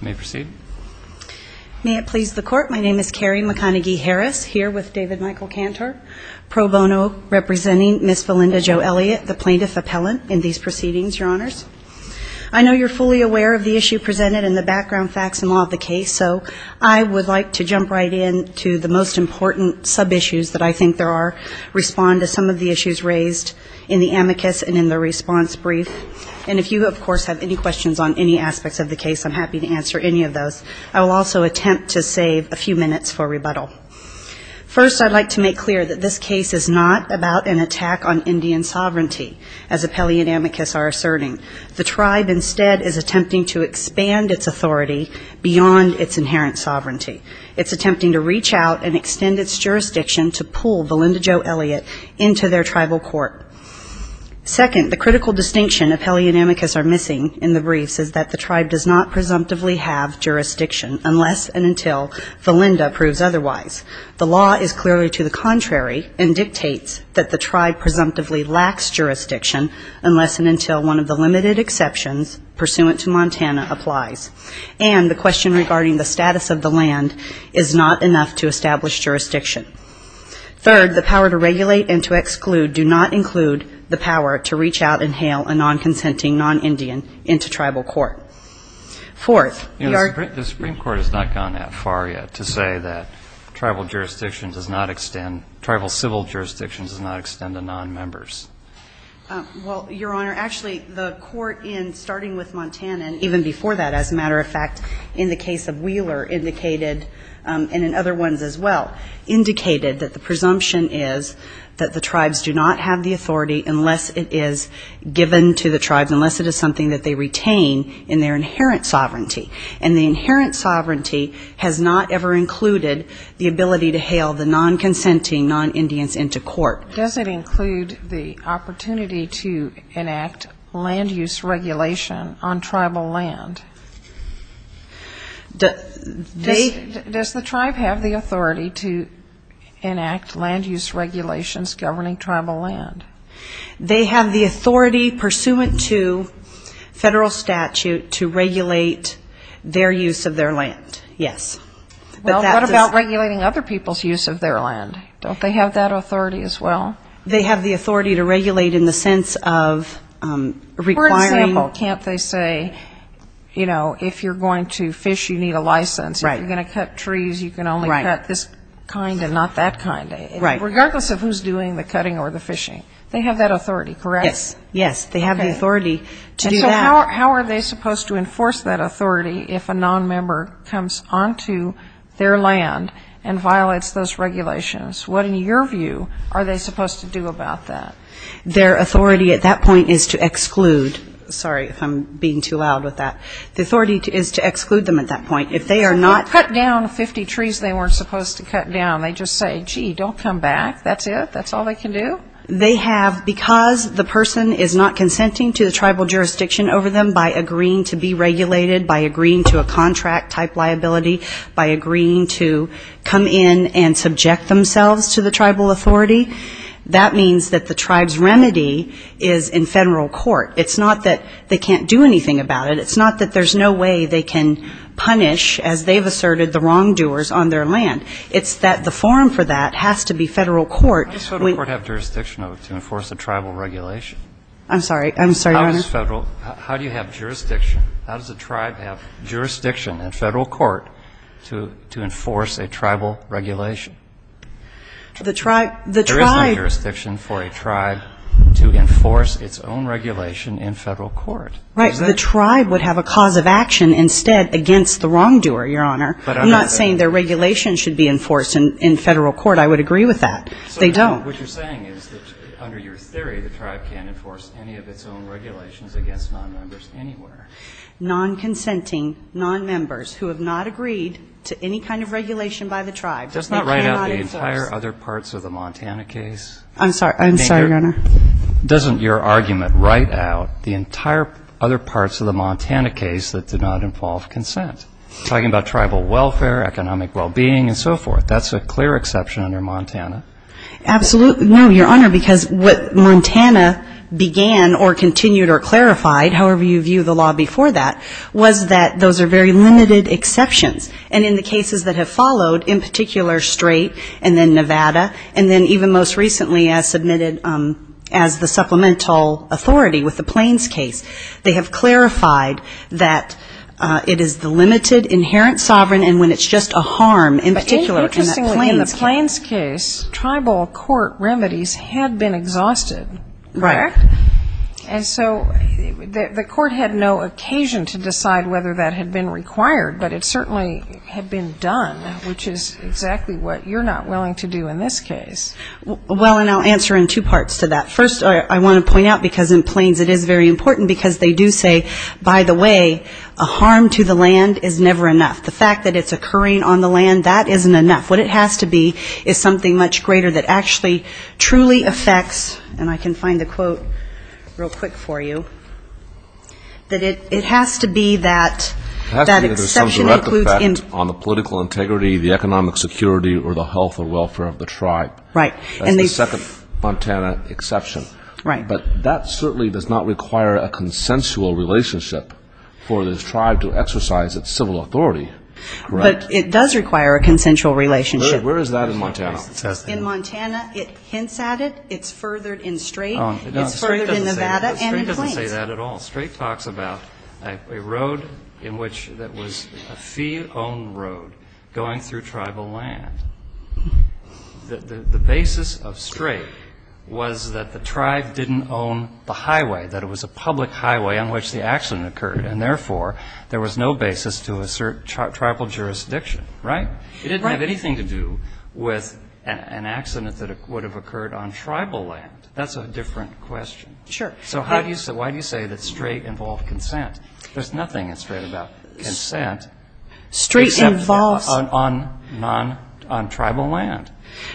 May it please the court, my name is Carrie McConaughey-Harris, here with David Michael Cantor, pro bono representing Ms. Valinda Jo Elliott, the plaintiff appellant in these proceedings, your honors. I know you're fully aware of the issue presented and the background facts and law of the case, so I would like to jump right in to the most important sub-issues that I think there are, respond to some of the issues raised in the amicus and in the response brief. And if you, of course, have any questions on any aspects of the case, I'm happy to answer any of those. I will also attempt to save a few minutes for rebuttal. First, I'd like to make clear that this case is not about an attack on Indian sovereignty, as appellee and amicus are asserting. The tribe instead is attempting to expand its authority beyond its inherent sovereignty. It's attempting to reach out and extend its jurisdiction to pull Valinda Jo Elliott into their tribal court. Second, the critical distinction appellee and amicus are missing in the briefs is that the tribe does not presumptively have jurisdiction unless and until Valinda proves otherwise. The law is clearly to the contrary and dictates that the tribe presumptively lacks jurisdiction unless and until one of the limited exceptions pursuant to Montana applies. And the question regarding the status of the land is not enough to establish jurisdiction. Third, the power to regulate and to exclude do not include the power to reach out and hail a non-consenting non-Indian into tribal court. Fourth, your ---- The Supreme Court has not gone that far yet to say that tribal jurisdictions does not extend, tribal civil jurisdictions does not extend to non-members. Well, Your Honor, actually the court in starting with Montana and even before that, as a matter of fact, in the case of Wheeler indicated, and in other ones as well, indicated that the presumption is that the tribes do not have the authority unless it is given to the tribes, unless it is something that they retain in their inherent sovereignty. And the inherent sovereignty has not ever included the ability to hail the non-consenting non-Indians into court. Does it include the opportunity to enact land use regulation on tribal land? Does the tribe have the authority to enact land use regulations governing tribal land? They have the authority pursuant to federal statute to regulate their use of their land, yes. Well, what about regulating other people's use of their land? Don't they have that authority as well? They have the authority to regulate in the sense of requiring ---- For example, can't they say, you know, if you're going to fish, you need a license. Right. If you're going to cut trees, you can only cut this kind and not that kind. Right. Regardless of who's doing the cutting or the fishing. They have that authority, correct? Yes. Yes. They have the authority to do that. How are they supposed to enforce that authority if a nonmember comes onto their land and violates those regulations? What, in your view, are they supposed to do about that? Their authority at that point is to exclude. Sorry if I'm being too loud with that. The authority is to exclude them at that point. If they are not ---- Well, cut down 50 trees they weren't supposed to cut down. They just say, gee, don't come back. That's it? That's all they can do? Because the person is not consenting to the tribal jurisdiction over them by agreeing to be regulated, by agreeing to a contract-type liability, by agreeing to come in and subject themselves to the tribal authority, that means that the tribe's remedy is in federal court. It's not that they can't do anything about it. It's not that there's no way they can punish, as they've asserted, the wrongdoers on their land. It's that the forum for that has to be federal court. How does federal court have jurisdiction to enforce a tribal regulation? I'm sorry. I'm sorry, Your Honor. How does federal ---- how do you have jurisdiction, how does a tribe have jurisdiction in federal court to enforce a tribal regulation? The tribe ---- There is no jurisdiction for a tribe to enforce its own regulation in federal court. Right. The tribe would have a cause of action instead against the wrongdoer, Your Honor. I'm not saying their regulation should be enforced in federal court. I would agree with that. They don't. What you're saying is that under your theory, the tribe can't enforce any of its own regulations against nonmembers anywhere. Nonconsenting nonmembers who have not agreed to any kind of regulation by the tribe. Does not write out the entire other parts of the Montana case. I'm sorry. I'm sorry, Your Honor. Doesn't your argument write out the entire other parts of the Montana case that did not involve consent? Talking about tribal welfare, economic well-being and so forth. That's a clear exception under Montana. Absolutely. No, Your Honor, because what Montana began or continued or clarified, however you view the law before that, was that those are very limited exceptions. And in the cases that have followed, in particular Strait and then Nevada, and then even most recently as submitted as the supplemental authority with the Plains case, they have clarified that it is the limited exception. When it's inherent sovereign and when it's just a harm, in particular in the Plains case. Interestingly, in the Plains case, tribal court remedies had been exhausted, correct? And so the court had no occasion to decide whether that had been required, but it certainly had been done, which is exactly what you're not willing to do in this case. Well, and I'll answer in two parts to that. First, I want to point out, because in Plains it is very important, because they do say, by the way, a harm to the land is never enough. The fact that it's occurring on the land, that isn't enough. What it has to be is something much greater that actually truly affects, and I can find the quote real quick for you, that it has to be that exception includes... It has to be that there's some direct effect on the political integrity, the economic security or the health or welfare of the tribe. Right. That's the second Montana exception, but that certainly does not require a consensual relationship for this tribe to exercise its civil authority. But it does require a consensual relationship. Where is that in Montana? In Montana, it hints at it. It's furthered in Strait. It's furthered in Nevada and in Plains. I didn't say that at all. Strait talks about a road in which that was a fee-owned road going through tribal land. The basis of Strait was that the tribe didn't own the highway, that it was a public highway on which the accident occurred. And therefore, there was no basis to assert tribal jurisdiction, right? It didn't have anything to do with an accident that would have occurred on tribal land. That's a different question. So why do you say that Strait involved consent? There's nothing in Strait about consent on tribal land.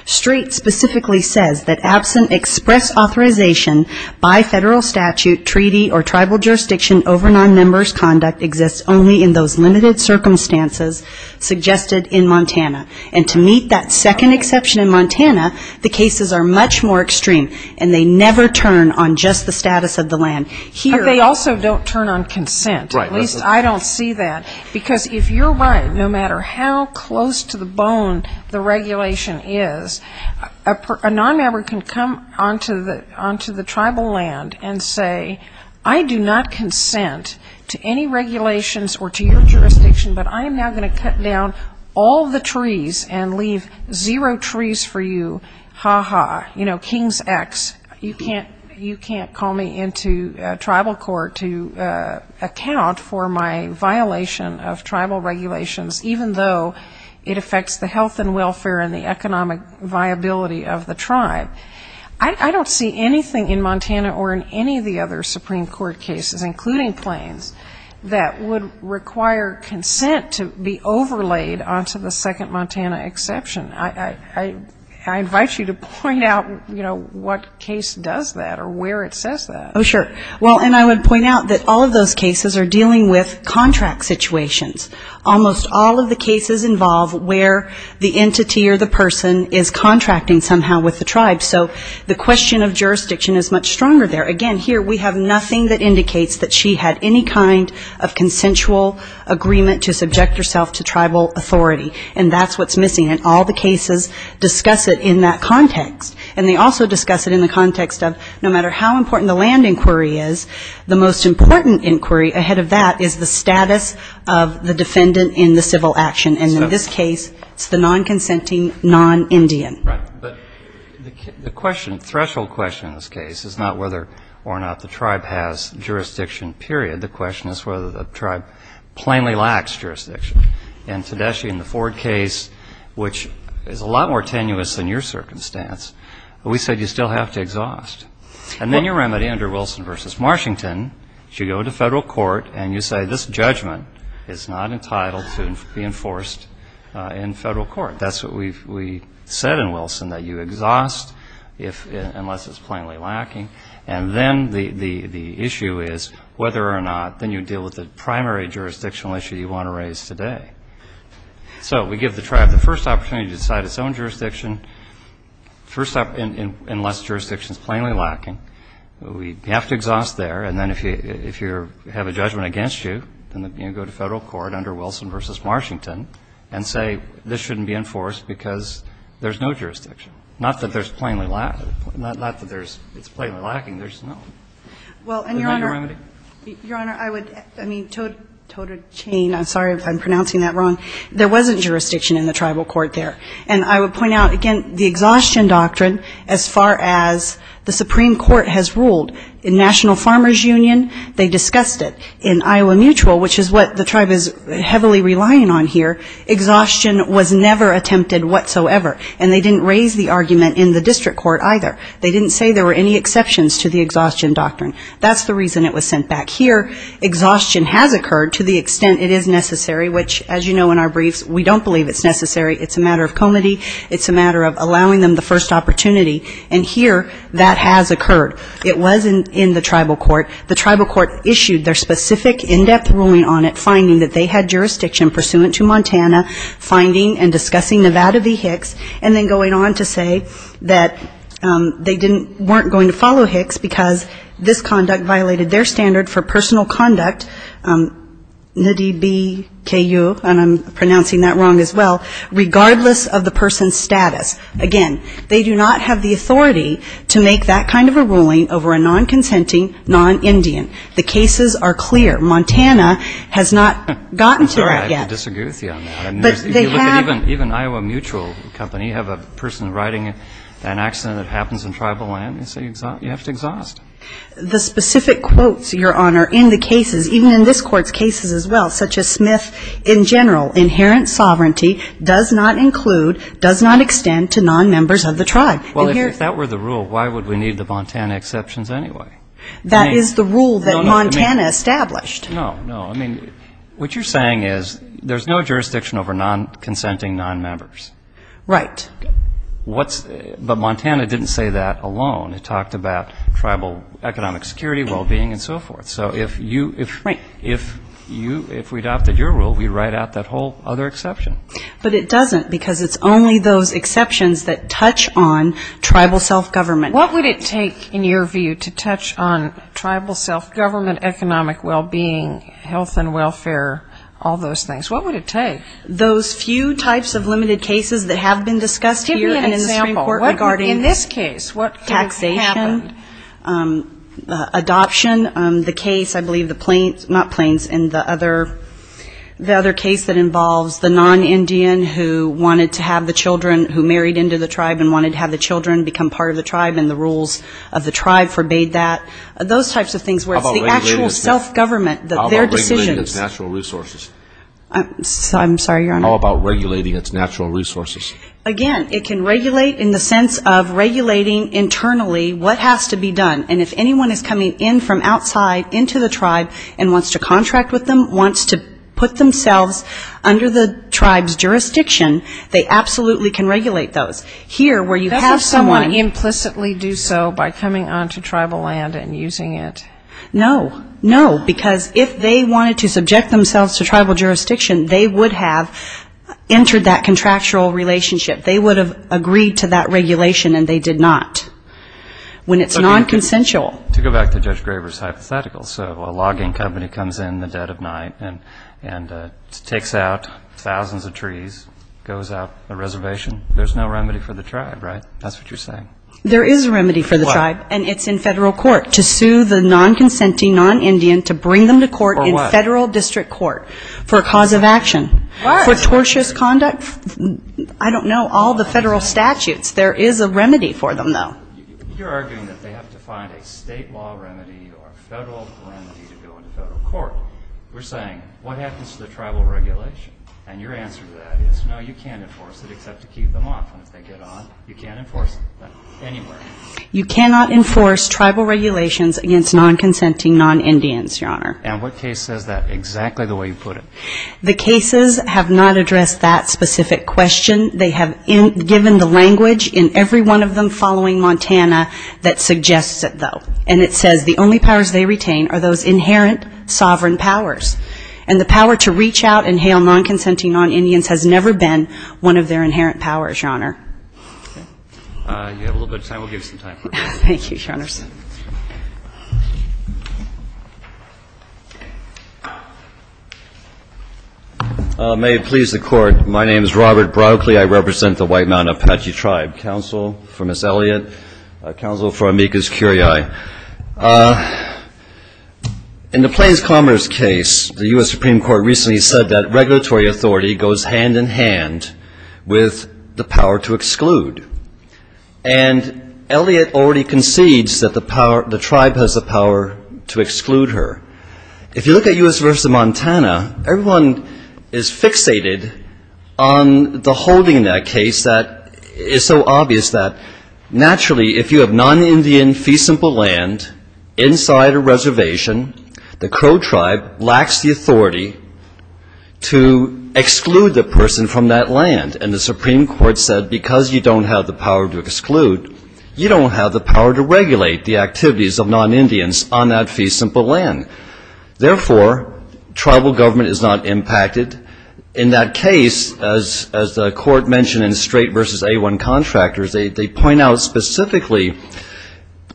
Strait specifically says that absent express authorization by federal statute, treaty or tribal jurisdiction over non-member's conduct exists only in those limited circumstances suggested in Montana. And to meet that second exception in Montana, the cases are much more extreme. And they never turn on just the status of the land. Here they also don't turn on consent. At least I don't see that. Because if you're right, no matter how close to the bone the regulation is, a non-member can come onto the tribal land and say, I do not consent to any regulations or to your jurisdiction, but I am now going to cut down all the trees in the state of Montana. I'm going to cut down all the trees and leave zero trees for you. Ha-ha. You know, King's X. You can't call me into tribal court to account for my violation of tribal regulations, even though it affects the health and welfare and the economic viability of the tribe. I don't see anything in Montana or in any of the other Supreme Court cases, including Plains, that would require consent to be overlaid onto the Second Montana Convention. I invite you to point out, you know, what case does that or where it says that. Oh, sure. Well, and I would point out that all of those cases are dealing with contract situations. Almost all of the cases involve where the entity or the person is contracting somehow with the tribe. So the question of jurisdiction is much stronger there. Again, here we have nothing that indicates that she had any kind of consensual agreement to subject herself to tribal authority. And that's what's missing in all the cases discuss it in that context. And they also discuss it in the context of no matter how important the land inquiry is, the most important inquiry ahead of that is the status of the defendant in the civil action. And in this case, it's the non-consenting non-Indian. Right. But the question, threshold question in this case is not whether or not the tribe has jurisdiction, period. The question is whether the tribe plainly lacks jurisdiction. And, Tedeschi, in the Ford case, which is a lot more tenuous than your circumstance, we said you still have to exhaust. And then your remedy under Wilson v. Washington is you go to federal court and you say, this judgment is not entitled to be enforced in federal court. That's what we said in Wilson, that you exhaust unless it's plainly lacking. And then the issue is whether or not then you deal with the primary jurisdictional issue you want to raise today. So we give the tribe the first opportunity to decide its own jurisdiction unless jurisdiction is plainly lacking. We have to exhaust there, and then if you have a judgment against you, then you go to federal court under Wilson v. Washington and say this shouldn't be enforced because there's no jurisdiction. Not that there's plainly lack, not that there's, it's plainly lacking, there's no remedy. Well, and, Your Honor, Your Honor, I would, I mean, I'm sorry if I'm pronouncing that wrong. There wasn't jurisdiction in the tribal court there. And I would point out, again, the exhaustion doctrine as far as the Supreme Court has ruled. In National Farmers Union, they discussed it. In Iowa Mutual, which is what the tribe is heavily relying on here, exhaustion was never attempted whatsoever. And they didn't raise the argument in the district court either. They didn't say there were any exceptions to the exhaustion doctrine. That's the reason it was sent back here. Exhaustion has occurred to the extent it is necessary, which, as you know in our briefs, we don't believe it's necessary. It's a matter of comity, it's a matter of allowing them the first opportunity. And here that has occurred. It was in the tribal court. The tribal court issued their specific in-depth ruling on it, finding that they had jurisdiction pursuant to Montana, finding and discussing Nevada v. Hicks, and then going on to say that they didn't, weren't going to follow Hicks because this conduct violated their standard for personal conduct, Ndidi B. K. U., and I'm pronouncing that wrong as well, regardless of the person's status. Again, they do not have the authority to make that kind of a ruling over a non-consenting, non-Indian. The cases are clear. Montana has not gotten to that yet. Even Iowa Mutual Company, you have a person writing an accident that happens in tribal land, they say you have to exhaust. The specific quotes, Your Honor, in the cases, even in this Court's cases as well, such as Smith in general, inherent sovereignty does not include, does not extend to non-members of the tribe. Well, if that were the rule, why would we need the Montana exceptions anyway? That is the rule that Montana established. No, no, I mean, what you're saying is there's no jurisdiction over non-consenting non-members. Right. But Montana didn't say that alone. It talked about tribal economic security, well-being, and so forth. So if you, if we adopted your rule, we'd write out that whole other exception. But it doesn't, because it's only those exceptions that touch on tribal self-government. What would it take, in your view, to touch on tribal self-government, economic well-being, health and welfare, all those things? What would it take? Those few types of limited cases that have been discussed here and in the Supreme Court regarding taxation. Give me an example. In this case, what has happened? Adoption. The case, I believe, the Plains, not Plains, and the other case that involves the non-Indian who wanted to have the children, who married into the tribe and wanted to have the children become part of the tribe and the rules of the tribe forbade that. Those types of things where it's the actual self-government, their decisions. How about regulating its natural resources? Again, it can regulate in the sense of regulating internally what has to be done. And if anyone is coming in from outside into the tribe and wants to contract with them, wants to put themselves under the tribe's jurisdiction, they can regulate those. Here, where you have someone... Does someone implicitly do so by coming onto tribal land and using it? No, no, because if they wanted to subject themselves to tribal jurisdiction, they would have entered that contractual relationship. They would have agreed to that regulation, and they did not. When it's non-consensual... To go back to Judge Graver's hypothetical, so a logging company comes in the dead of night and takes out thousands of trees, goes out a reservation. There's no remedy for the tribe, right? That's what you're saying. There is a remedy for the tribe, and it's in federal court to sue the non-consenting non-Indian to bring them to court in federal district court for a cause of action. For tortious conduct? I don't know all the federal statutes. There is a remedy for them, though. You're arguing that they have to find a state law remedy or federal remedy to go into federal court. We're saying, what happens to the tribal regulation? And your answer to that is, no, you can't enforce it except to keep them off, and if they get on, you can't enforce it anywhere. You cannot enforce tribal regulations against non-consenting non-Indians, Your Honor. And what case says that exactly the way you put it? The cases have not addressed that specific question. They have given the language in every one of them following Montana that suggests it, though. And it says the only powers they retain are those inherent sovereign powers. And the power to reach out and hail non-consenting non-Indians has never been one of their inherent powers, Your Honor. You have a little bit of time. We'll give you some time. Thank you, Your Honors. Mr. Elliott. May it please the Court, my name is Robert Broccoli. I represent the White Mountain Apache Tribe. Counsel for Ms. Elliott, counsel for Amicus Curiae. In the Plains Commoners case, the U.S. Supreme Court recently said that regulatory authority goes hand-in-hand with the power to exclude. And Elliott already concedes that the tribe has the power to exclude her. If you look at U.S. v. Montana, everyone is fixated on the holding in that case that is so obvious that naturally, if you have non-Indian feasible land inside a reservation, the Crow tribe lacks the authority to exclude the person from that land. And the Supreme Court said, because you don't have the power to exclude, you don't have the power to regulate the activities of non-Indians on that feasible land. Therefore, tribal government is not impacted. In that case, as the Court mentioned in Strait v. A1 Contractors, they point out specifically,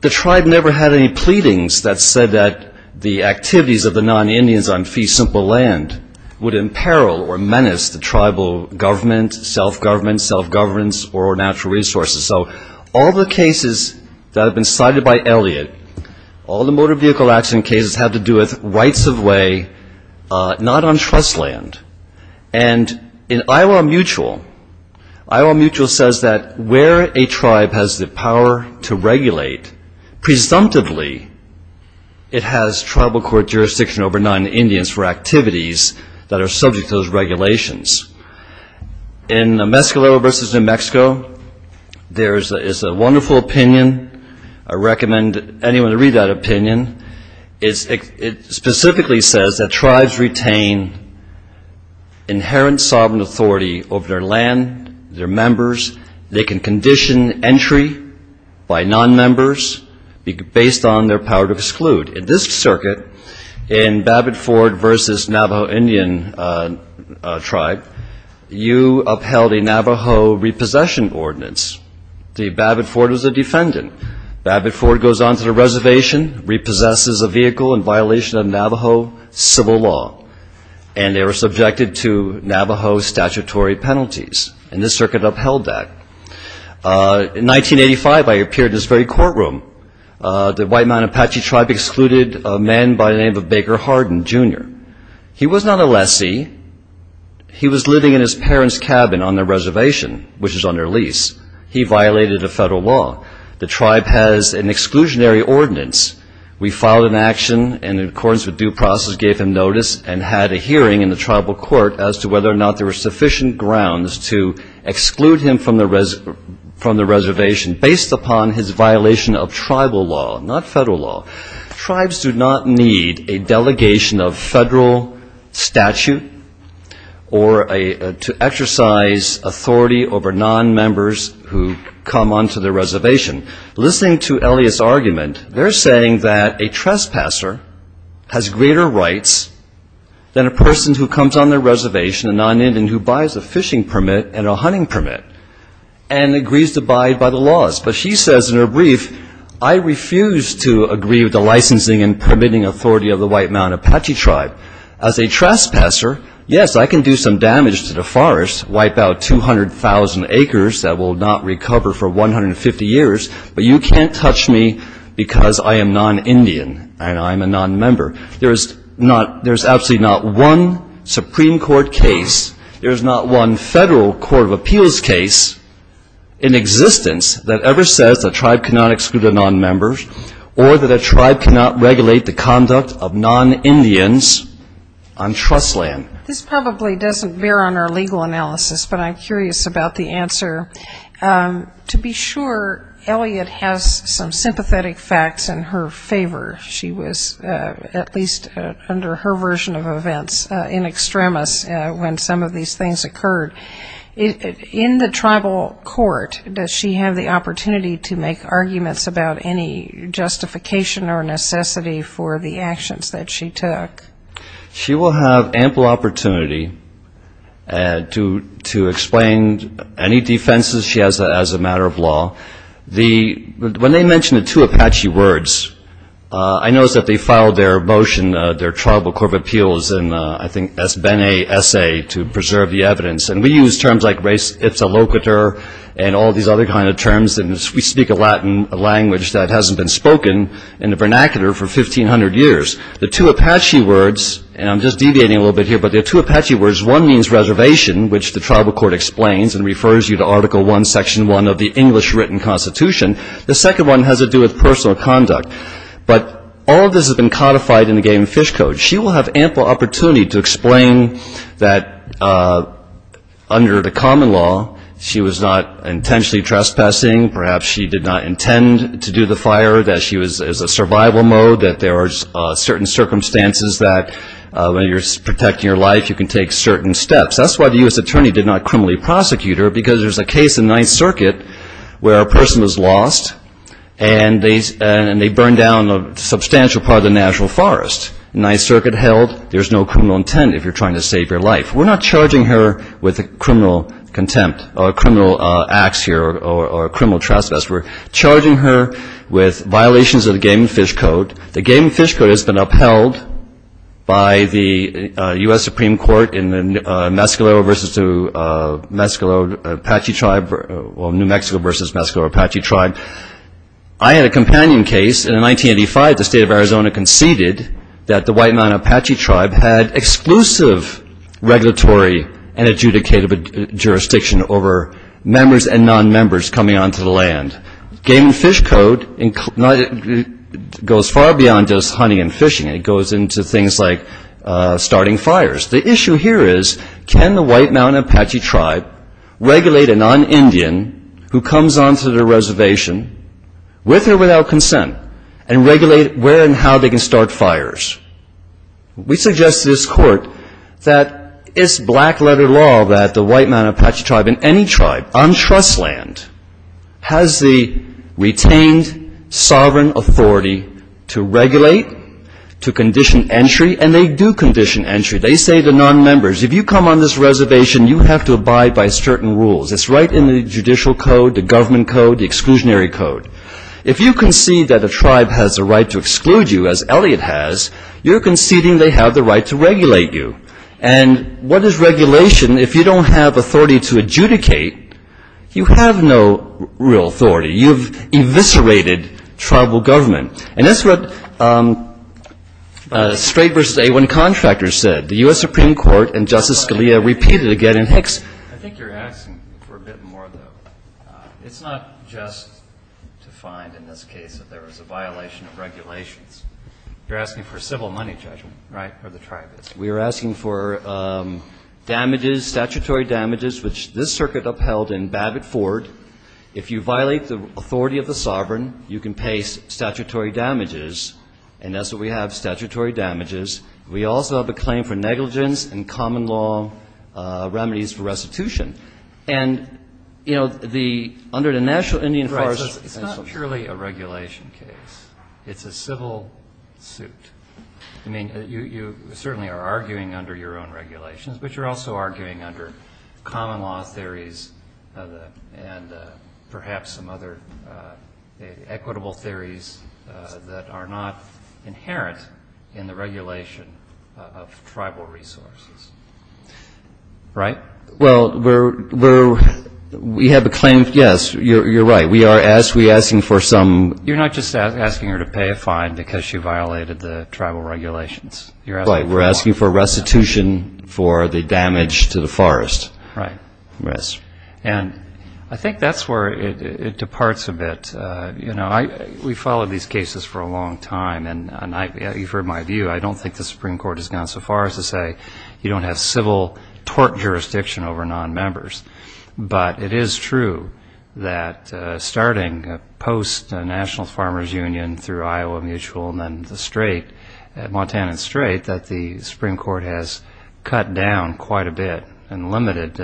the tribe never had any pleadings that said that the activities of the non-Indians on feasible land would imperil or menace the tribal government, self-government, self-governance, or natural resources. So all the cases that have been cited by Elliott, all the motor vehicle accident cases have to do with rights of way, not on trust land. And in Iowa Mutual, Iowa Mutual says that where a tribe has the power to regulate, presumptively it has tribal court jurisdiction over non-Indians for activities that are subject to those regulations. In Mescalero v. New Mexico, there is a wonderful opinion. I recommend anyone to read that opinion. It specifically says that tribes retain inherent sovereign authority over their land, their members. They can condition entry by non-members based on their power to exclude. In this circuit, in Babbitt-Ford v. Navajo Indian tribe, you upheld a right to exclude. You upheld a Navajo repossession ordinance. Babbitt-Ford was a defendant. Babbitt-Ford goes on to the reservation, repossesses a vehicle in violation of Navajo civil law. And they were subjected to Navajo statutory penalties. And this circuit upheld that. In 1985, I appeared in this very courtroom. The White Mountain Apache tribe excluded a man by the name of Baker Hardin, Jr. He was not a lessee. He was living in his parents' cabin on their reservation, which is on their lease. He violated a federal law. The tribe has an exclusionary ordinance. We filed an action in accordance with due process, gave him notice, and had a hearing in the tribal court as to whether or not there were sufficient grounds to exclude him from the reservation based upon his violation of tribal law, not federal law. Tribes do not need a delegation of federal statute or to exercise authority over non-members who come onto the reservation. Listening to Elliot's argument, they're saying that a trespasser has greater rights than a person who comes on their reservation, a non-Indian who buys a fishing permit and a hunting permit and agrees to abide by the laws. But she says in her brief, I refuse to agree with the licensing and permitting authority of the White Mountain Apache tribe. As a trespasser, yes, I can do some damage to the forest, wipe out 200,000 acres that will not recover for 150 years. But you can't touch me because I am non-Indian and I'm a non-member. There's absolutely not one Supreme Court case, there's not one federal court of appeals case in existence that ever says a tribe cannot exclude a non-member or that a tribe cannot regulate the conduct of non-Indians on trust land. This probably doesn't bear on our legal analysis, but I'm curious about the answer. To be sure, Elliot has some sympathetic facts in her favor. She was, at least under her version of events, in extremis when some of these things occurred. In the tribal court, does she have the opportunity to make arguments about any justification or necessity for the actions that she took? She will have ample opportunity to explain any defense that she took. She has that as a matter of law. When they mentioned the two Apache words, I noticed that they filed their motion, their tribal court of appeals, and I think that's been an essay to preserve the evidence. And we use terms like res ipsa loquitur and all these other kinds of terms. And we speak a language that hasn't been spoken in the vernacular for 1,500 years. The two Apache words, and I'm just deviating a little bit here, but the two Apache words, one means reservation, which the tribal court explains and refers you to Article 1. Section 1 of the English written constitution. The second one has to do with personal conduct. But all of this has been codified in the game of fish code. She will have ample opportunity to explain that under the common law, she was not intentionally trespassing. Perhaps she did not intend to do the fire, that she was a survival mode, that there are certain circumstances that when you're protecting your life, you can take certain steps. That's why the U.S. attorney did not criminally prosecute her, because there's a case in Ninth Circuit where a person was lost, and they burned down a substantial part of the natural forest. Ninth Circuit held there's no criminal intent if you're trying to save your life. We're not charging her with criminal contempt or criminal acts here or criminal trespass. We're charging her with violations of the game of fish code. The game of fish code has been upheld by the U.S. Supreme Court in the Mescalero versus Mescalero Apache tribe, or New Mexico versus Mescalero Apache tribe. I had a companion case, and in 1985 the state of Arizona conceded that the White Mountain Apache tribe had exclusive regulatory and adjudicative jurisdiction over members and non-members coming onto the land. Game and fish code goes far beyond just hunting and fishing. It goes into things like starting fires. The issue here is, can the White Mountain Apache tribe regulate a non-Indian who comes onto the reservation with or without consent, and regulate where and how they can start fires? We suggest to this Court that it's black-letter law that the White Mountain Apache tribe and any tribe on trust land has the authority to start fires. They have the retained sovereign authority to regulate, to condition entry, and they do condition entry. They say to non-members, if you come on this reservation, you have to abide by certain rules. It's right in the judicial code, the government code, the exclusionary code. If you concede that a tribe has the right to exclude you, as Elliott has, you're conceding they have the right to regulate you. And what is regulation if you don't have authority to adjudicate? You have no real authority. You've eviscerated tribal government. And that's what Strait v. A1 contractors said. The U.S. Supreme Court and Justice Scalia repeated it again in Hicks. I think you're asking for a bit more, though. It's not just to find, in this case, that there was a violation of regulations. You're asking for a civil money judgment, right, where the tribe is. We are asking for damages, statutory damages, which this circuit upheld in Babbitt-Ford. If you violate the authority of the sovereign, you can pay statutory damages. And that's what we have, statutory damages. We also have a claim for negligence and common law remedies for restitution. And, you know, under the National Indian Forestry Commission. Right, so it's not purely a regulation case. It's a civil suit. I mean, you certainly are arguing under your own regulations, but you're also arguing under common law theories and perhaps some other equitable theories that are not inherent in the regulation of tribal resources, right? Well, we're, we have a claim, yes, you're right. We are asking for some. You're not just asking her to pay a fine because she violated the tribal regulations. Right, we're asking for restitution for the damage to the forest. Right. And I think that's where it departs a bit. You know, we followed these cases for a long time, and you've heard my view. I don't think the Supreme Court has gone so far as to say you don't have civil tort jurisdiction over non-members. But it is true that starting post-National Farmers Union through Iowa Mutual and then the Strait, Montana Strait, that the Supreme Court has cut down quite a bit and limited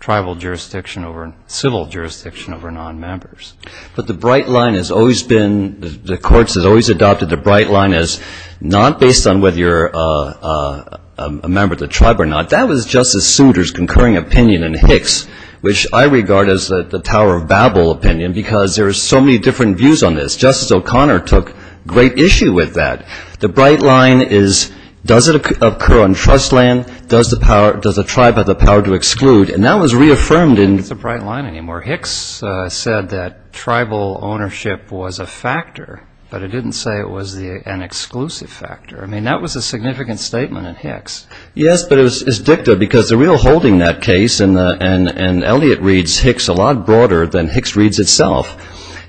tribal jurisdiction over, civil jurisdiction over non-members. But the bright line has always been, the courts have always adopted the bright line as not based on whether you're a member of the tribe or not. That was Justice Souter's concurring opinion in Hicks, which I regard as the Tower of Babel opinion, because there are so many different views on this. Justice O'Connor took great issue with that. The bright line is, does it occur on trust land? Does the tribe have the power to exclude? And that was reaffirmed in... It's a bright line anymore. Hicks said that tribal ownership was a factor, but it didn't say it was an exclusive factor. I mean, that was a significant statement in Hicks. Yes, but it's dicta, because the real holding in that case, and Elliott reads Hicks a lot broader than Hicks reads itself.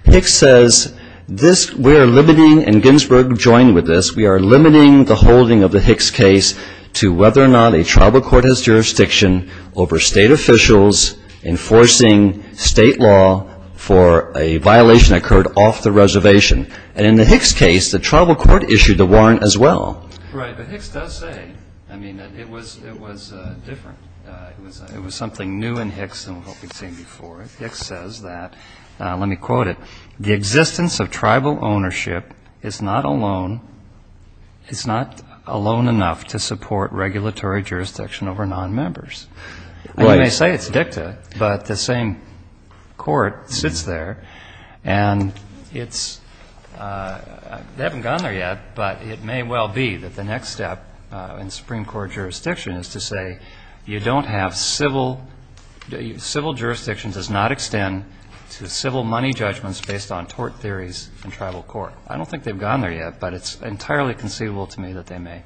Hicks says, we are limiting, and Ginsburg joined with this, we are limiting the holding of the Hicks case to whether or not a tribal court has jurisdiction over state officials enforcing state law for a violation that occurred off the table. Right, but Hicks does say, I mean, it was different. It was something new in Hicks than what we've seen before. Hicks says that, let me quote it, the existence of tribal ownership is not alone enough to support regulatory jurisdiction over nonmembers. And you may say it's dicta, but the same court sits there, and it's... They haven't gone there yet, but it may well be that the next step in Supreme Court jurisdiction is to say, you don't have civil, civil jurisdiction does not extend to civil money judgments based on tort theories in tribal court. I don't think they've gone there yet, but it's entirely conceivable to me that they may.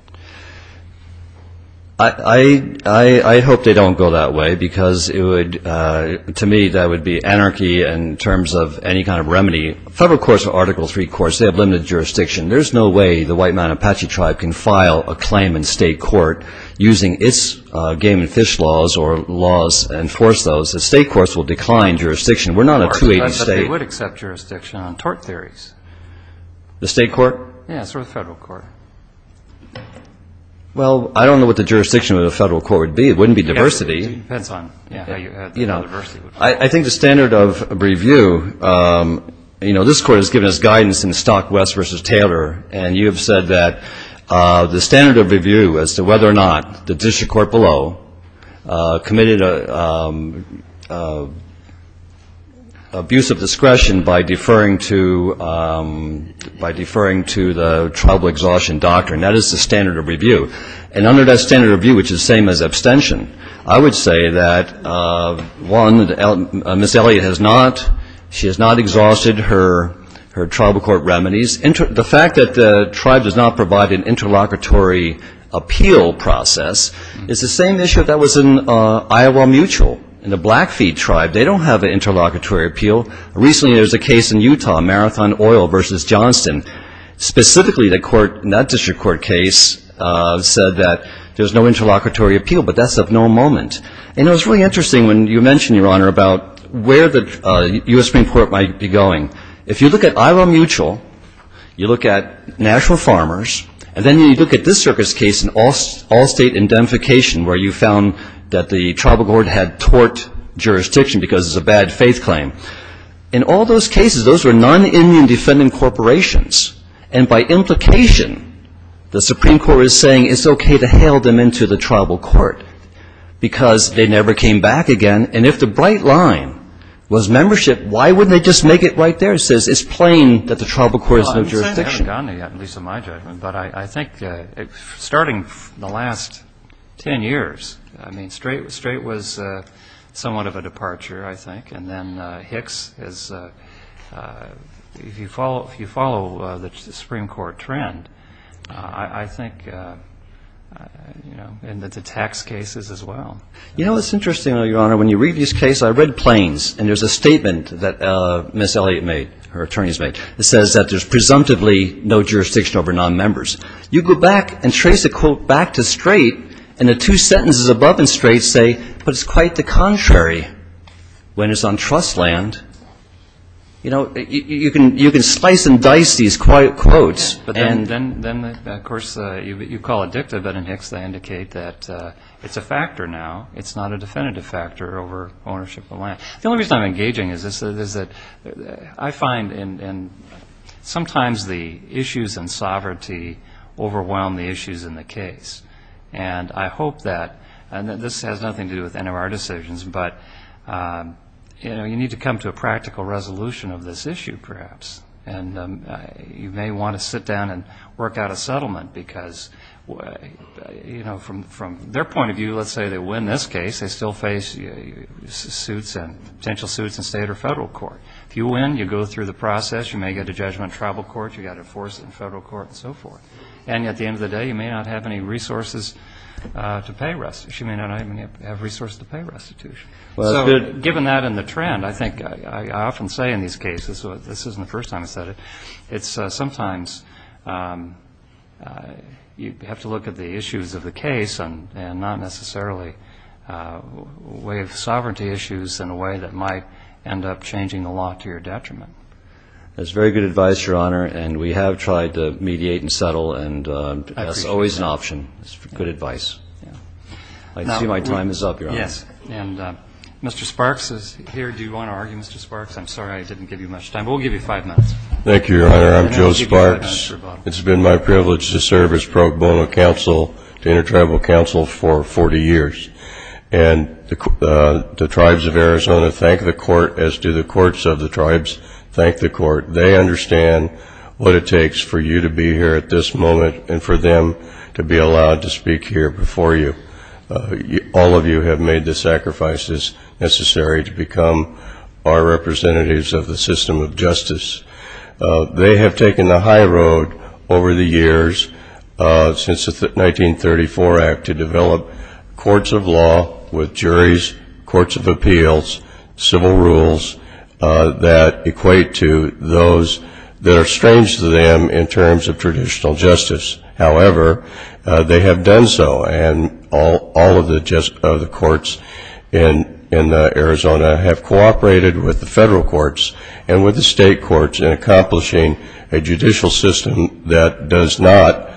I hope they don't go that way, because it would, to me, that would be anarchy in terms of any kind of remedy. Federal courts are Article III courts. They have limited jurisdiction. There's no way the White Mountain Apache tribe can file a claim in state court using its game and fish laws or laws to enforce those. The state courts will decline jurisdiction. We're not a 280 state. They would accept jurisdiction on tort theories. The state court? Yes, or the federal court. Well, I don't know what the jurisdiction of the federal court would be. It wouldn't be diversity. It depends on how you add diversity. I think the standard of review, you know, this Court has given us guidance in Stock West v. Taylor, and you have said that the standard of review as to whether or not the district court below committed abuse of discretion by deferring to the tribal exhaustion doctrine, that is the standard of review. And under that standard of review, which is the same as abstention, I would say that, one, Ms. Elliott has not exhausted her tribal court remedies. The fact that the tribe does not provide an interlocutory appeal process is the same issue that was in Iowa Mutual. In the Blackfeet tribe, they don't have an interlocutory appeal. Recently, there was a case in Utah, Marathon Oil v. Johnston. Specifically, the court in that district court case said that there's no interlocutory appeal, but that's of no moment. And it was really interesting when you mentioned, Your Honor, about where the U.S. Supreme Court might be going. If you look at Iowa Mutual, you look at Nashville Farmers, and then you look at this circuit's case in all-state indemnification, where you found that the tribal court had tort jurisdiction because it's a bad faith claim. In all those cases, those were non-Indian defendant corporations. And by implication, the Supreme Court is saying it's okay to hail them into the tribal court, because they never came back again. And if the bright line was membership, why wouldn't they just make it right there? It's plain that the tribal court has no jurisdiction. I haven't gotten there yet, at least in my judgment. But I think starting the last 10 years, I mean, Strait was somewhat of a departure, I think. And then Hicks is, if you follow the Supreme Court trend, I think, you know, and the tax cases as well. You know, it's interesting, Your Honor, when you read this case, I read Plains, and there's a statement that Ms. Elliott made, her attorney's made, that says that there's presumptively no jurisdiction over non-members. You go back and trace a quote back to Strait, and the two sentences above in Strait say, but it's quite the contrary when it's on trust land. You know, you can slice and dice these quotes. But then, of course, you call it dicta, but in Hicks they indicate that it's a factor now. It's not a definitive factor over ownership of land. The only reason I'm engaging is that I find sometimes the issues in sovereignty overwhelm the issues in the case. And I hope that, and this has nothing to do with any of our decisions, but, you know, you need to come to a practical resolution of this issue, perhaps. And you may want to sit down and work out a settlement, because, you know, from their point of view, let's say they win this case, they still face suits and potential suits in state or federal court. If you win, you go through the process. You may get a judgment in tribal court. You've got to enforce it in federal court and so forth. And at the end of the day, you may not have any resources to pay restitution. So given that and the trend, I think I often say in these cases, this isn't the first time I've said it, it's sometimes you have to look at the issues of the case and not necessarily way of sovereignty issues in a way that might end up changing the law to your detriment. That's very good advice, Your Honor, and we have tried to mediate and settle. And that's always an option. It's good advice. I see my time is up, Your Honor. Yes, and Mr. Sparks is here. Do you want to argue, Mr. Sparks? I'm sorry I didn't give you much time, but we'll give you five minutes. I'm proud to speak here before you. All of you have made the sacrifices necessary to become our representatives of the system of justice. They have taken the high road over the years since the 1934 Act to develop courts of law with juries, courts of appeals, civil rules that equate to those that are strange to them in terms of traditional justice. However, they have done so, and all of the courts in Arizona have cooperated with the federal courts and with the state courts in accomplishing a judicial system that does not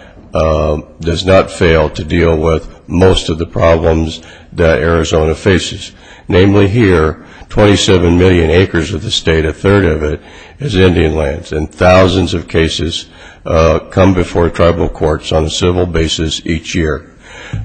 fail to deal with most of the problems that Arizona faces. Namely here, 27 million acres of the state, a third of it is Indian lands, and thousands of cases come before tribal courts on a civil basis each year.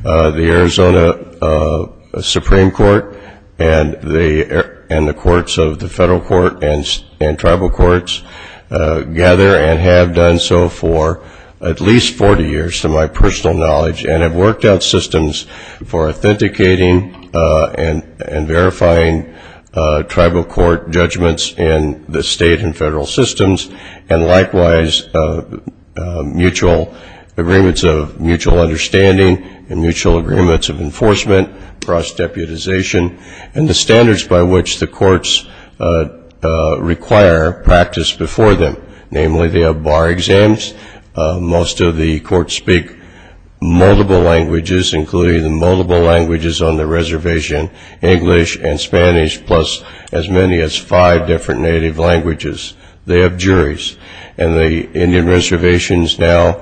The Arizona Supreme Court and the courts of the federal court and tribal courts gather and have done so for at least 40 years to my personal knowledge and have worked out systems for authenticating and verifying tribal court judgments in the state and federal systems, and likewise agreements of mutual understanding and mutual agreements of enforcement, cross-deputization, and the standards by which the courts require practice before them. Namely, they have bar exams. Most of the courts speak multiple languages, including the multiple languages on the reservation, English and Spanish, plus as many as five different native languages. They have juries, and the Indian reservations now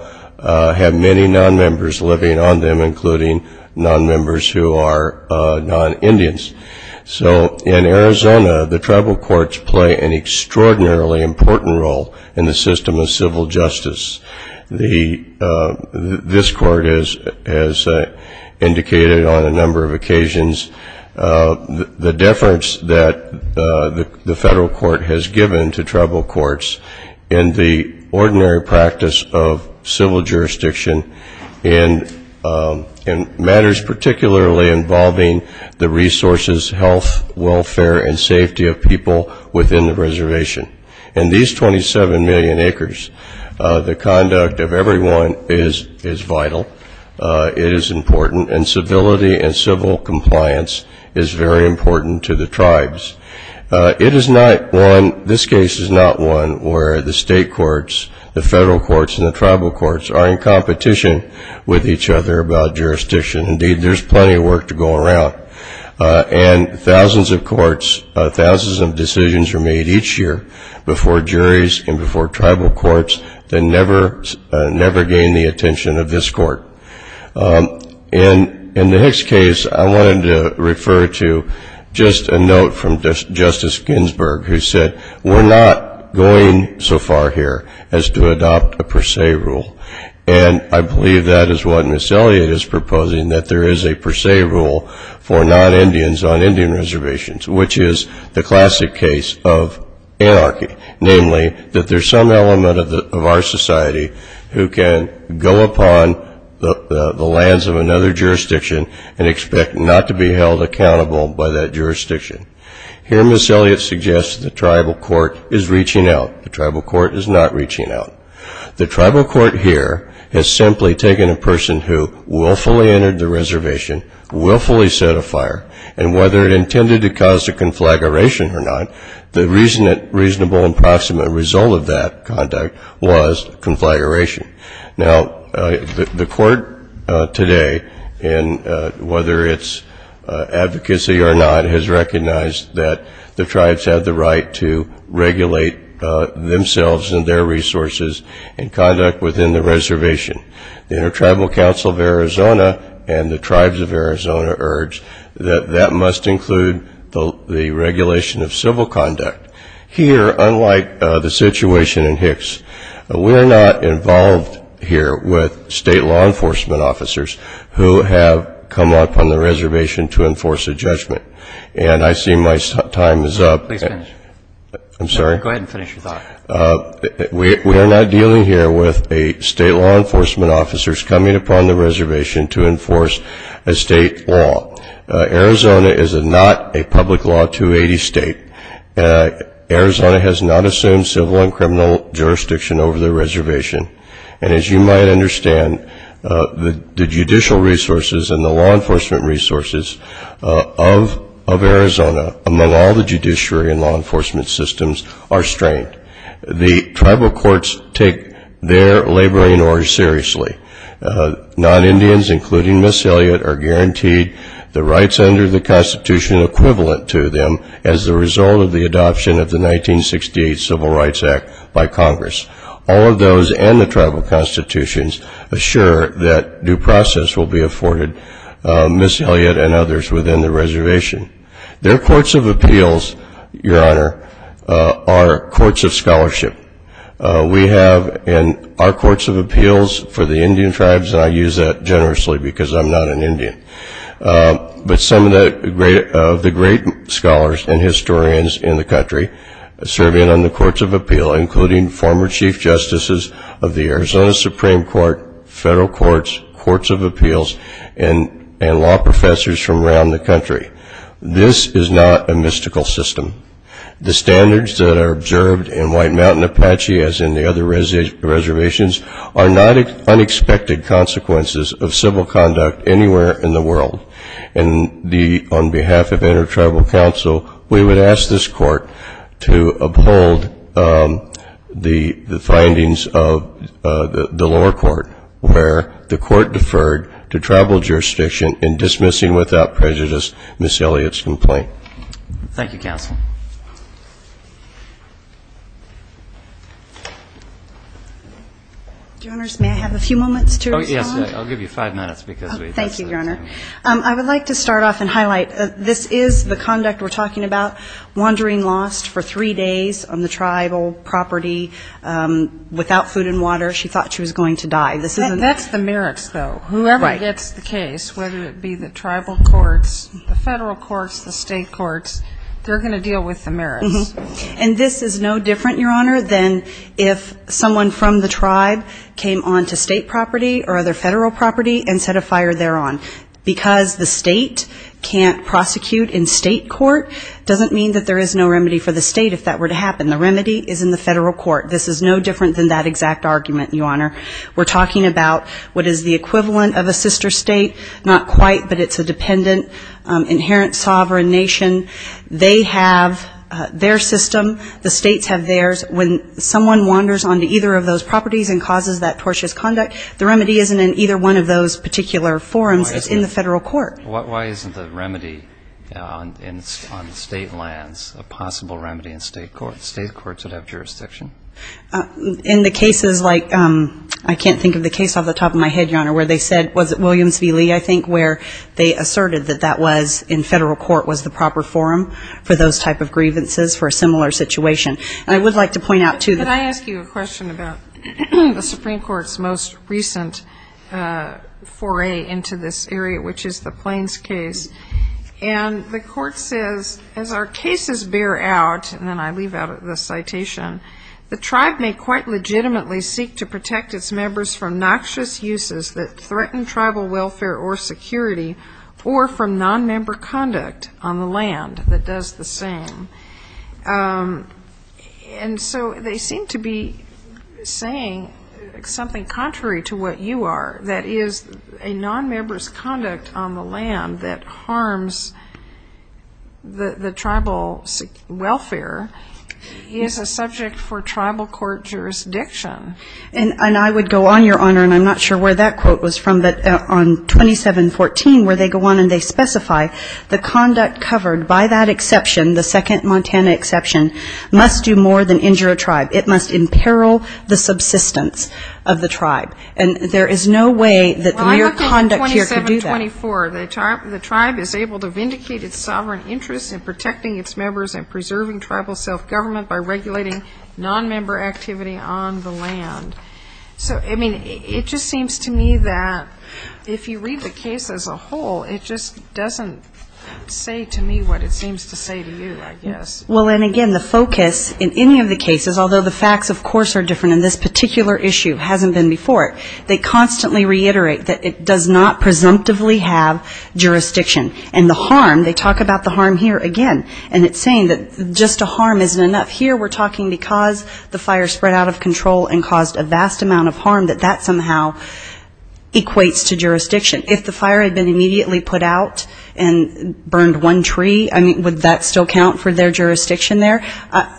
have many non-members living on them, including non-members who are non-Indians. So in Arizona, the tribal courts play an extraordinarily important role in the system of civil justice. This court has indicated on a number of occasions the deference that the federal court has given to tribal courts in the ordinary practice of civil jurisdiction in matters particularly involving the resources, health, welfare, and safety of people within the reservation. In these 27 million acres, the conduct of everyone is vital, it is important, and civility and civil compliance is very important to the tribes. It is not one, this case is not one where the state courts, the federal courts, and the tribal courts are in competition with each other about jurisdiction. And indeed, there's plenty of work to go around. And thousands of courts, thousands of decisions are made each year before juries and before tribal courts that never gain the attention of this court. And in the Hicks case, I wanted to refer to just a note from Justice Ginsburg who said, we're not going so far here as to adopt a per se rule. And I believe that is what Ms. Elliott is proposing, that there is a per se rule for non-Indians on Indian reservations, which is the classic case of anarchy, namely that there's some element of our society who can go upon the lands of another jurisdiction and expect not to be held accountable by that jurisdiction. Here Ms. Elliott suggests the tribal court is reaching out. The tribal court is not reaching out. The tribal court here has simply taken a person who willfully entered the reservation, willfully set a fire, and whether it intended to cause a conflagration or not, the reasonable and proximate result of that conduct was conflagration. Now, the court today, and whether it's advocacy or not, has recognized that the tribes have the right to regulate themselves and their resources and conduct within the reservation. The Intertribal Council of Arizona and the tribes of Arizona urge that that must include the regulation of civil conduct. Here, unlike the situation in Hicks, we're not involved here with state law enforcement officers who have come upon the reservation to enforce a judgment. And I see my time is up. We are not dealing here with state law enforcement officers coming upon the reservation to enforce a state law. Arizona is not a public law 280 state. Arizona has not assumed civil and criminal jurisdiction over the reservation. And as you might understand, the judicial resources and the law enforcement resources of Arizona, among all the judiciary and law enforcement systems, are strained. The tribal courts take their laboring orders seriously. Non-Indians, including Miss Elliott, are guaranteed the rights under the Constitution equivalent to them as a result of the adoption of the 1968 Civil Rights Act by Congress. All of those and the tribal constitutions assure that due process will be afforded Miss Elliott and others within the reservation. Their courts of appeals, Your Honor, are courts of scholarship. Our courts of appeals for the Indian tribes, and I use that generously because I'm not an Indian, but some of the great scholars and historians in the country serve in on the courts of appeal, including former chief justices of the Arizona Supreme Court, federal courts, courts of appeals, and law professors from around the country. This is not a mystical system. The standards that are observed in White Mountain Apache, as in the other reservations, are not unexpected consequences of civil conduct anywhere in the world. And on behalf of Inter-Tribal Council, we would ask this court to uphold the findings of the lower court, where the court deferred to tribal jurisdiction in dismissing without prejudice Miss Elliott's complaint. Thank you, counsel. Your Honors, may I have a few moments to respond? Yes, I'll give you five minutes. Thank you, Your Honor. I would like to start off and highlight that this is the conduct we're talking about, where Miss Elliott was wandering lost for three days on the tribal property without food and water. She thought she was going to die. That's the merits, though. Whoever gets the case, whether it be the tribal courts, the federal courts, the state courts, they're going to deal with the merits. And this is no different, Your Honor, than if someone from the tribe came onto state property or other federal property and set a fire thereon. It's not that there is no remedy for the state if that were to happen. The remedy is in the federal court. This is no different than that exact argument, Your Honor. We're talking about what is the equivalent of a sister state, not quite, but it's a dependent, inherent sovereign nation. They have their system, the states have theirs. And when someone wanders onto either of those properties and causes that tortious conduct, the remedy isn't in either one of those particular forums. It's in the federal court. Why isn't the remedy on state lands a possible remedy in state courts? State courts would have jurisdiction. In the cases like, I can't think of the case off the top of my head, Your Honor, where they said, was it Williams v. Lee, I think, where they asserted that that was, in federal court, was the proper forum for those type of grievances for a similar situation. And I would like to point out, too, that the Supreme Court's most recent foray into this area, which is the Plains case, and the Tribe may quite legitimately seek to protect its members from noxious uses that threaten tribal welfare or security, or from nonmember conduct on the land that does the same. And so they seem to be saying something contrary to what you are, that is, a nonmember's conduct on the land that harms the tribe. And I would go on, Your Honor, and I'm not sure where that quote was from, but on 2714, where they go on and they specify the conduct covered by that exception, the second Montana exception, must do more than injure a tribe. It must imperil the subsistence of the tribe. And there is no way that the mere conduct here could do that. In 2724, the tribe is able to vindicate its sovereign interests in protecting its members and preserving tribal self-government by regulating nonmember activity on the land. So, I mean, it just seems to me that if you read the case as a whole, it just doesn't say to me what it seems to say to you, I guess. Well, and again, the focus in any of the cases, although the facts, of course, are different in this particular issue, hasn't been before, they constantly reiterate that it does not presumptively have jurisdiction. And the harm, they talk about the harm here again, and it's saying that just a harm isn't enough. Here we're talking because the fire spread out of control and caused a vast amount of harm, that that somehow equates to jurisdiction. If the fire had been immediately put out and burned one tree, I mean, would that still count for their jurisdiction there?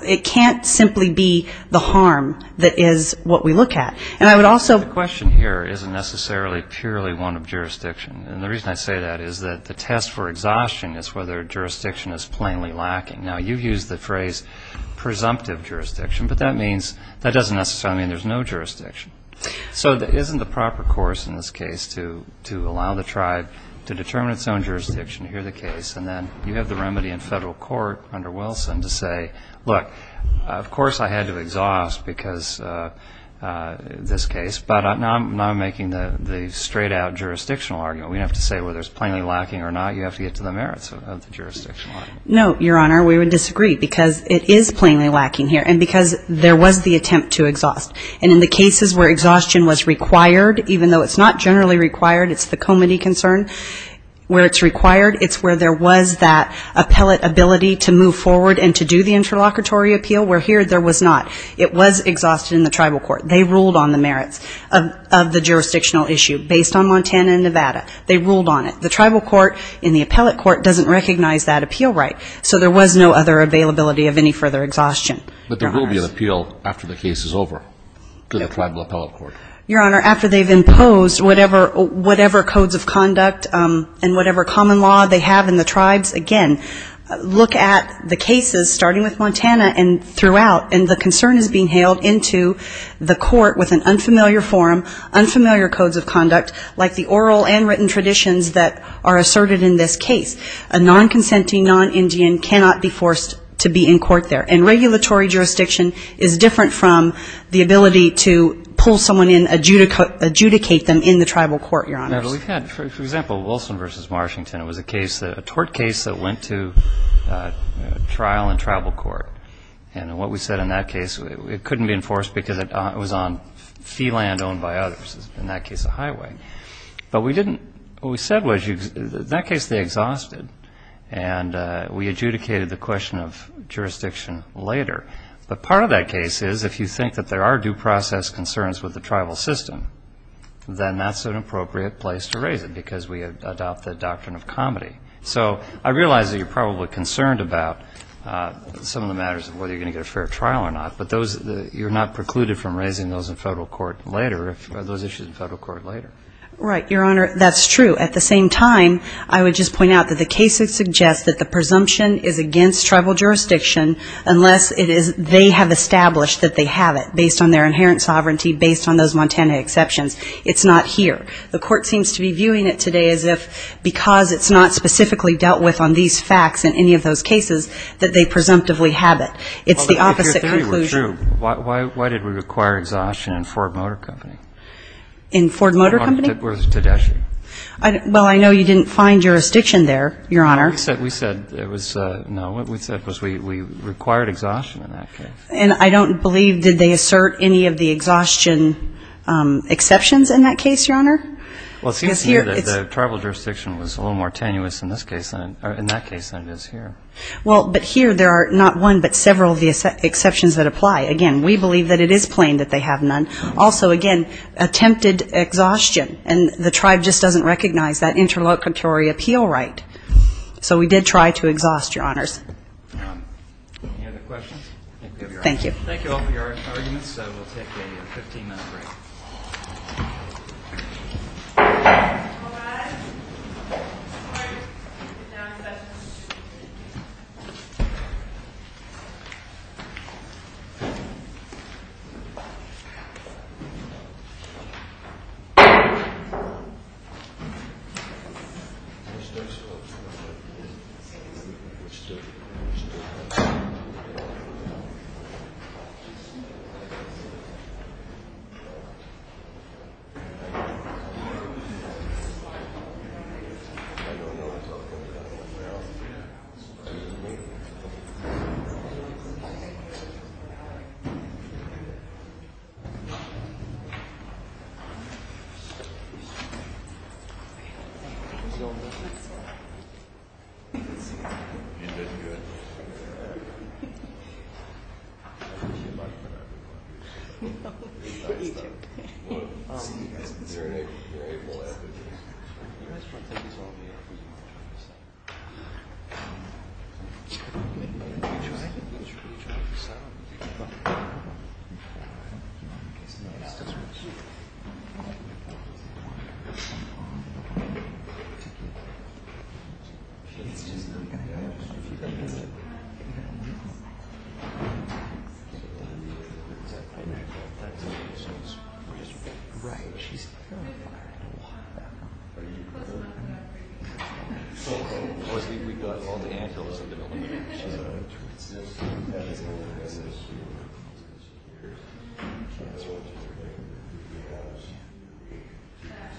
It can't simply be the harm that is what we look at. And I would also... The question here isn't necessarily purely one of jurisdiction. And the reason I say that is that the test for exhaustion is whether jurisdiction is plainly lacking. Now, you've used the phrase presumptive jurisdiction, but that doesn't necessarily mean there's no jurisdiction. So isn't the proper course in this case to allow the tribe to determine its own jurisdiction, hear the case, and then you have the remedy in federal court under Wilson to say, look, of course I had to exhaust because this case, but now I'm making the straight-out jurisdictional argument. We don't have to say whether it's plainly lacking or not. You have to get to the merits of the jurisdictional argument. No, Your Honor, we would disagree, because it is plainly lacking here. And because there was the attempt to exhaust. And in the cases where exhaustion was required, even though it's not generally required, it's the comity concern, where it's required, it's where there was that appellate ability to move forward and to do the interlocutory appeal, where here there was not. It was exhausted in the tribal court. They ruled on the merits of the jurisdictional issue based on Montana and Nevada. They ruled on it. The tribal court in the appellate court doesn't recognize that appeal right. So there was no other availability of any further exhaustion. But there will be an appeal after the case is over to the tribal appellate court. Your Honor, after they've imposed whatever codes of conduct and whatever common law they have in the tribes, again, look at the cases starting with Montana and throughout, and the concern is being hailed into the court with an unfamiliar form, unfamiliar codes of conduct, like the oral and written traditions that are asserted in this case. A non-consenting non-Indian cannot be forced to be in court there. And regulatory jurisdiction is different from the ability to pull someone in, adjudicate them in the tribal court, Your Honor. We've had, for example, Wilson v. Washington. It was a tort case that went to trial in tribal court. And what we said in that case, it couldn't be enforced because it was on fee land owned by others, in that case a highway. But what we said was, in that case they exhausted, and we adjudicated the question of jurisdiction later. But part of that case is, if you think that there are due process concerns with the tribal system, then that's an appropriate place to raise it, because we adopt the doctrine of comity. So I realize that you're probably concerned about some of the matters of whether you're going to get a fair trial or not, but you're not precluded from raising those in federal court later, those issues in federal court later. Right, Your Honor, that's true. At the same time, I would just point out that the case would suggest that the presumption is against tribal jurisdiction unless they have established that they have it, based on their inherent sovereignty, based on those Montana exceptions. It's not here. The court seems to be viewing it today as if, because it's not specifically dealt with on these facts in any of those cases, that they presumptively have it. It's the opposite conclusion. Well, if your theory were true, why did we require exhaustion in Ford Motor Company? In Ford Motor Company? Well, I know you didn't find jurisdiction there, Your Honor. We said it was, no, what we said was we required exhaustion in that case. And I don't believe, did they assert any of the exhaustion exceptions in that case, Your Honor? Well, it seems to me that the tribal jurisdiction was a little more tenuous in that case than it is here. Well, but here there are not one but several of the exceptions that apply. Again, we believe that it is plain that they have none. Also, again, attempted exhaustion, and the tribe just doesn't recognize that interlocutory appeal right. So we did try to exhaust, Your Honors. Any other questions? Thank you.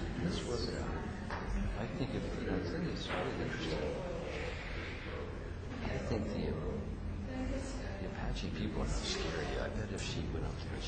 Mr. Schultz. Mr. Schultz. Mr. Schultz. Mr. Schultz. Mr. Schultz. Mr. Schultz. Mr. Schultz. Mr. Schultz. Mr. Schultz. Mr. Schultz.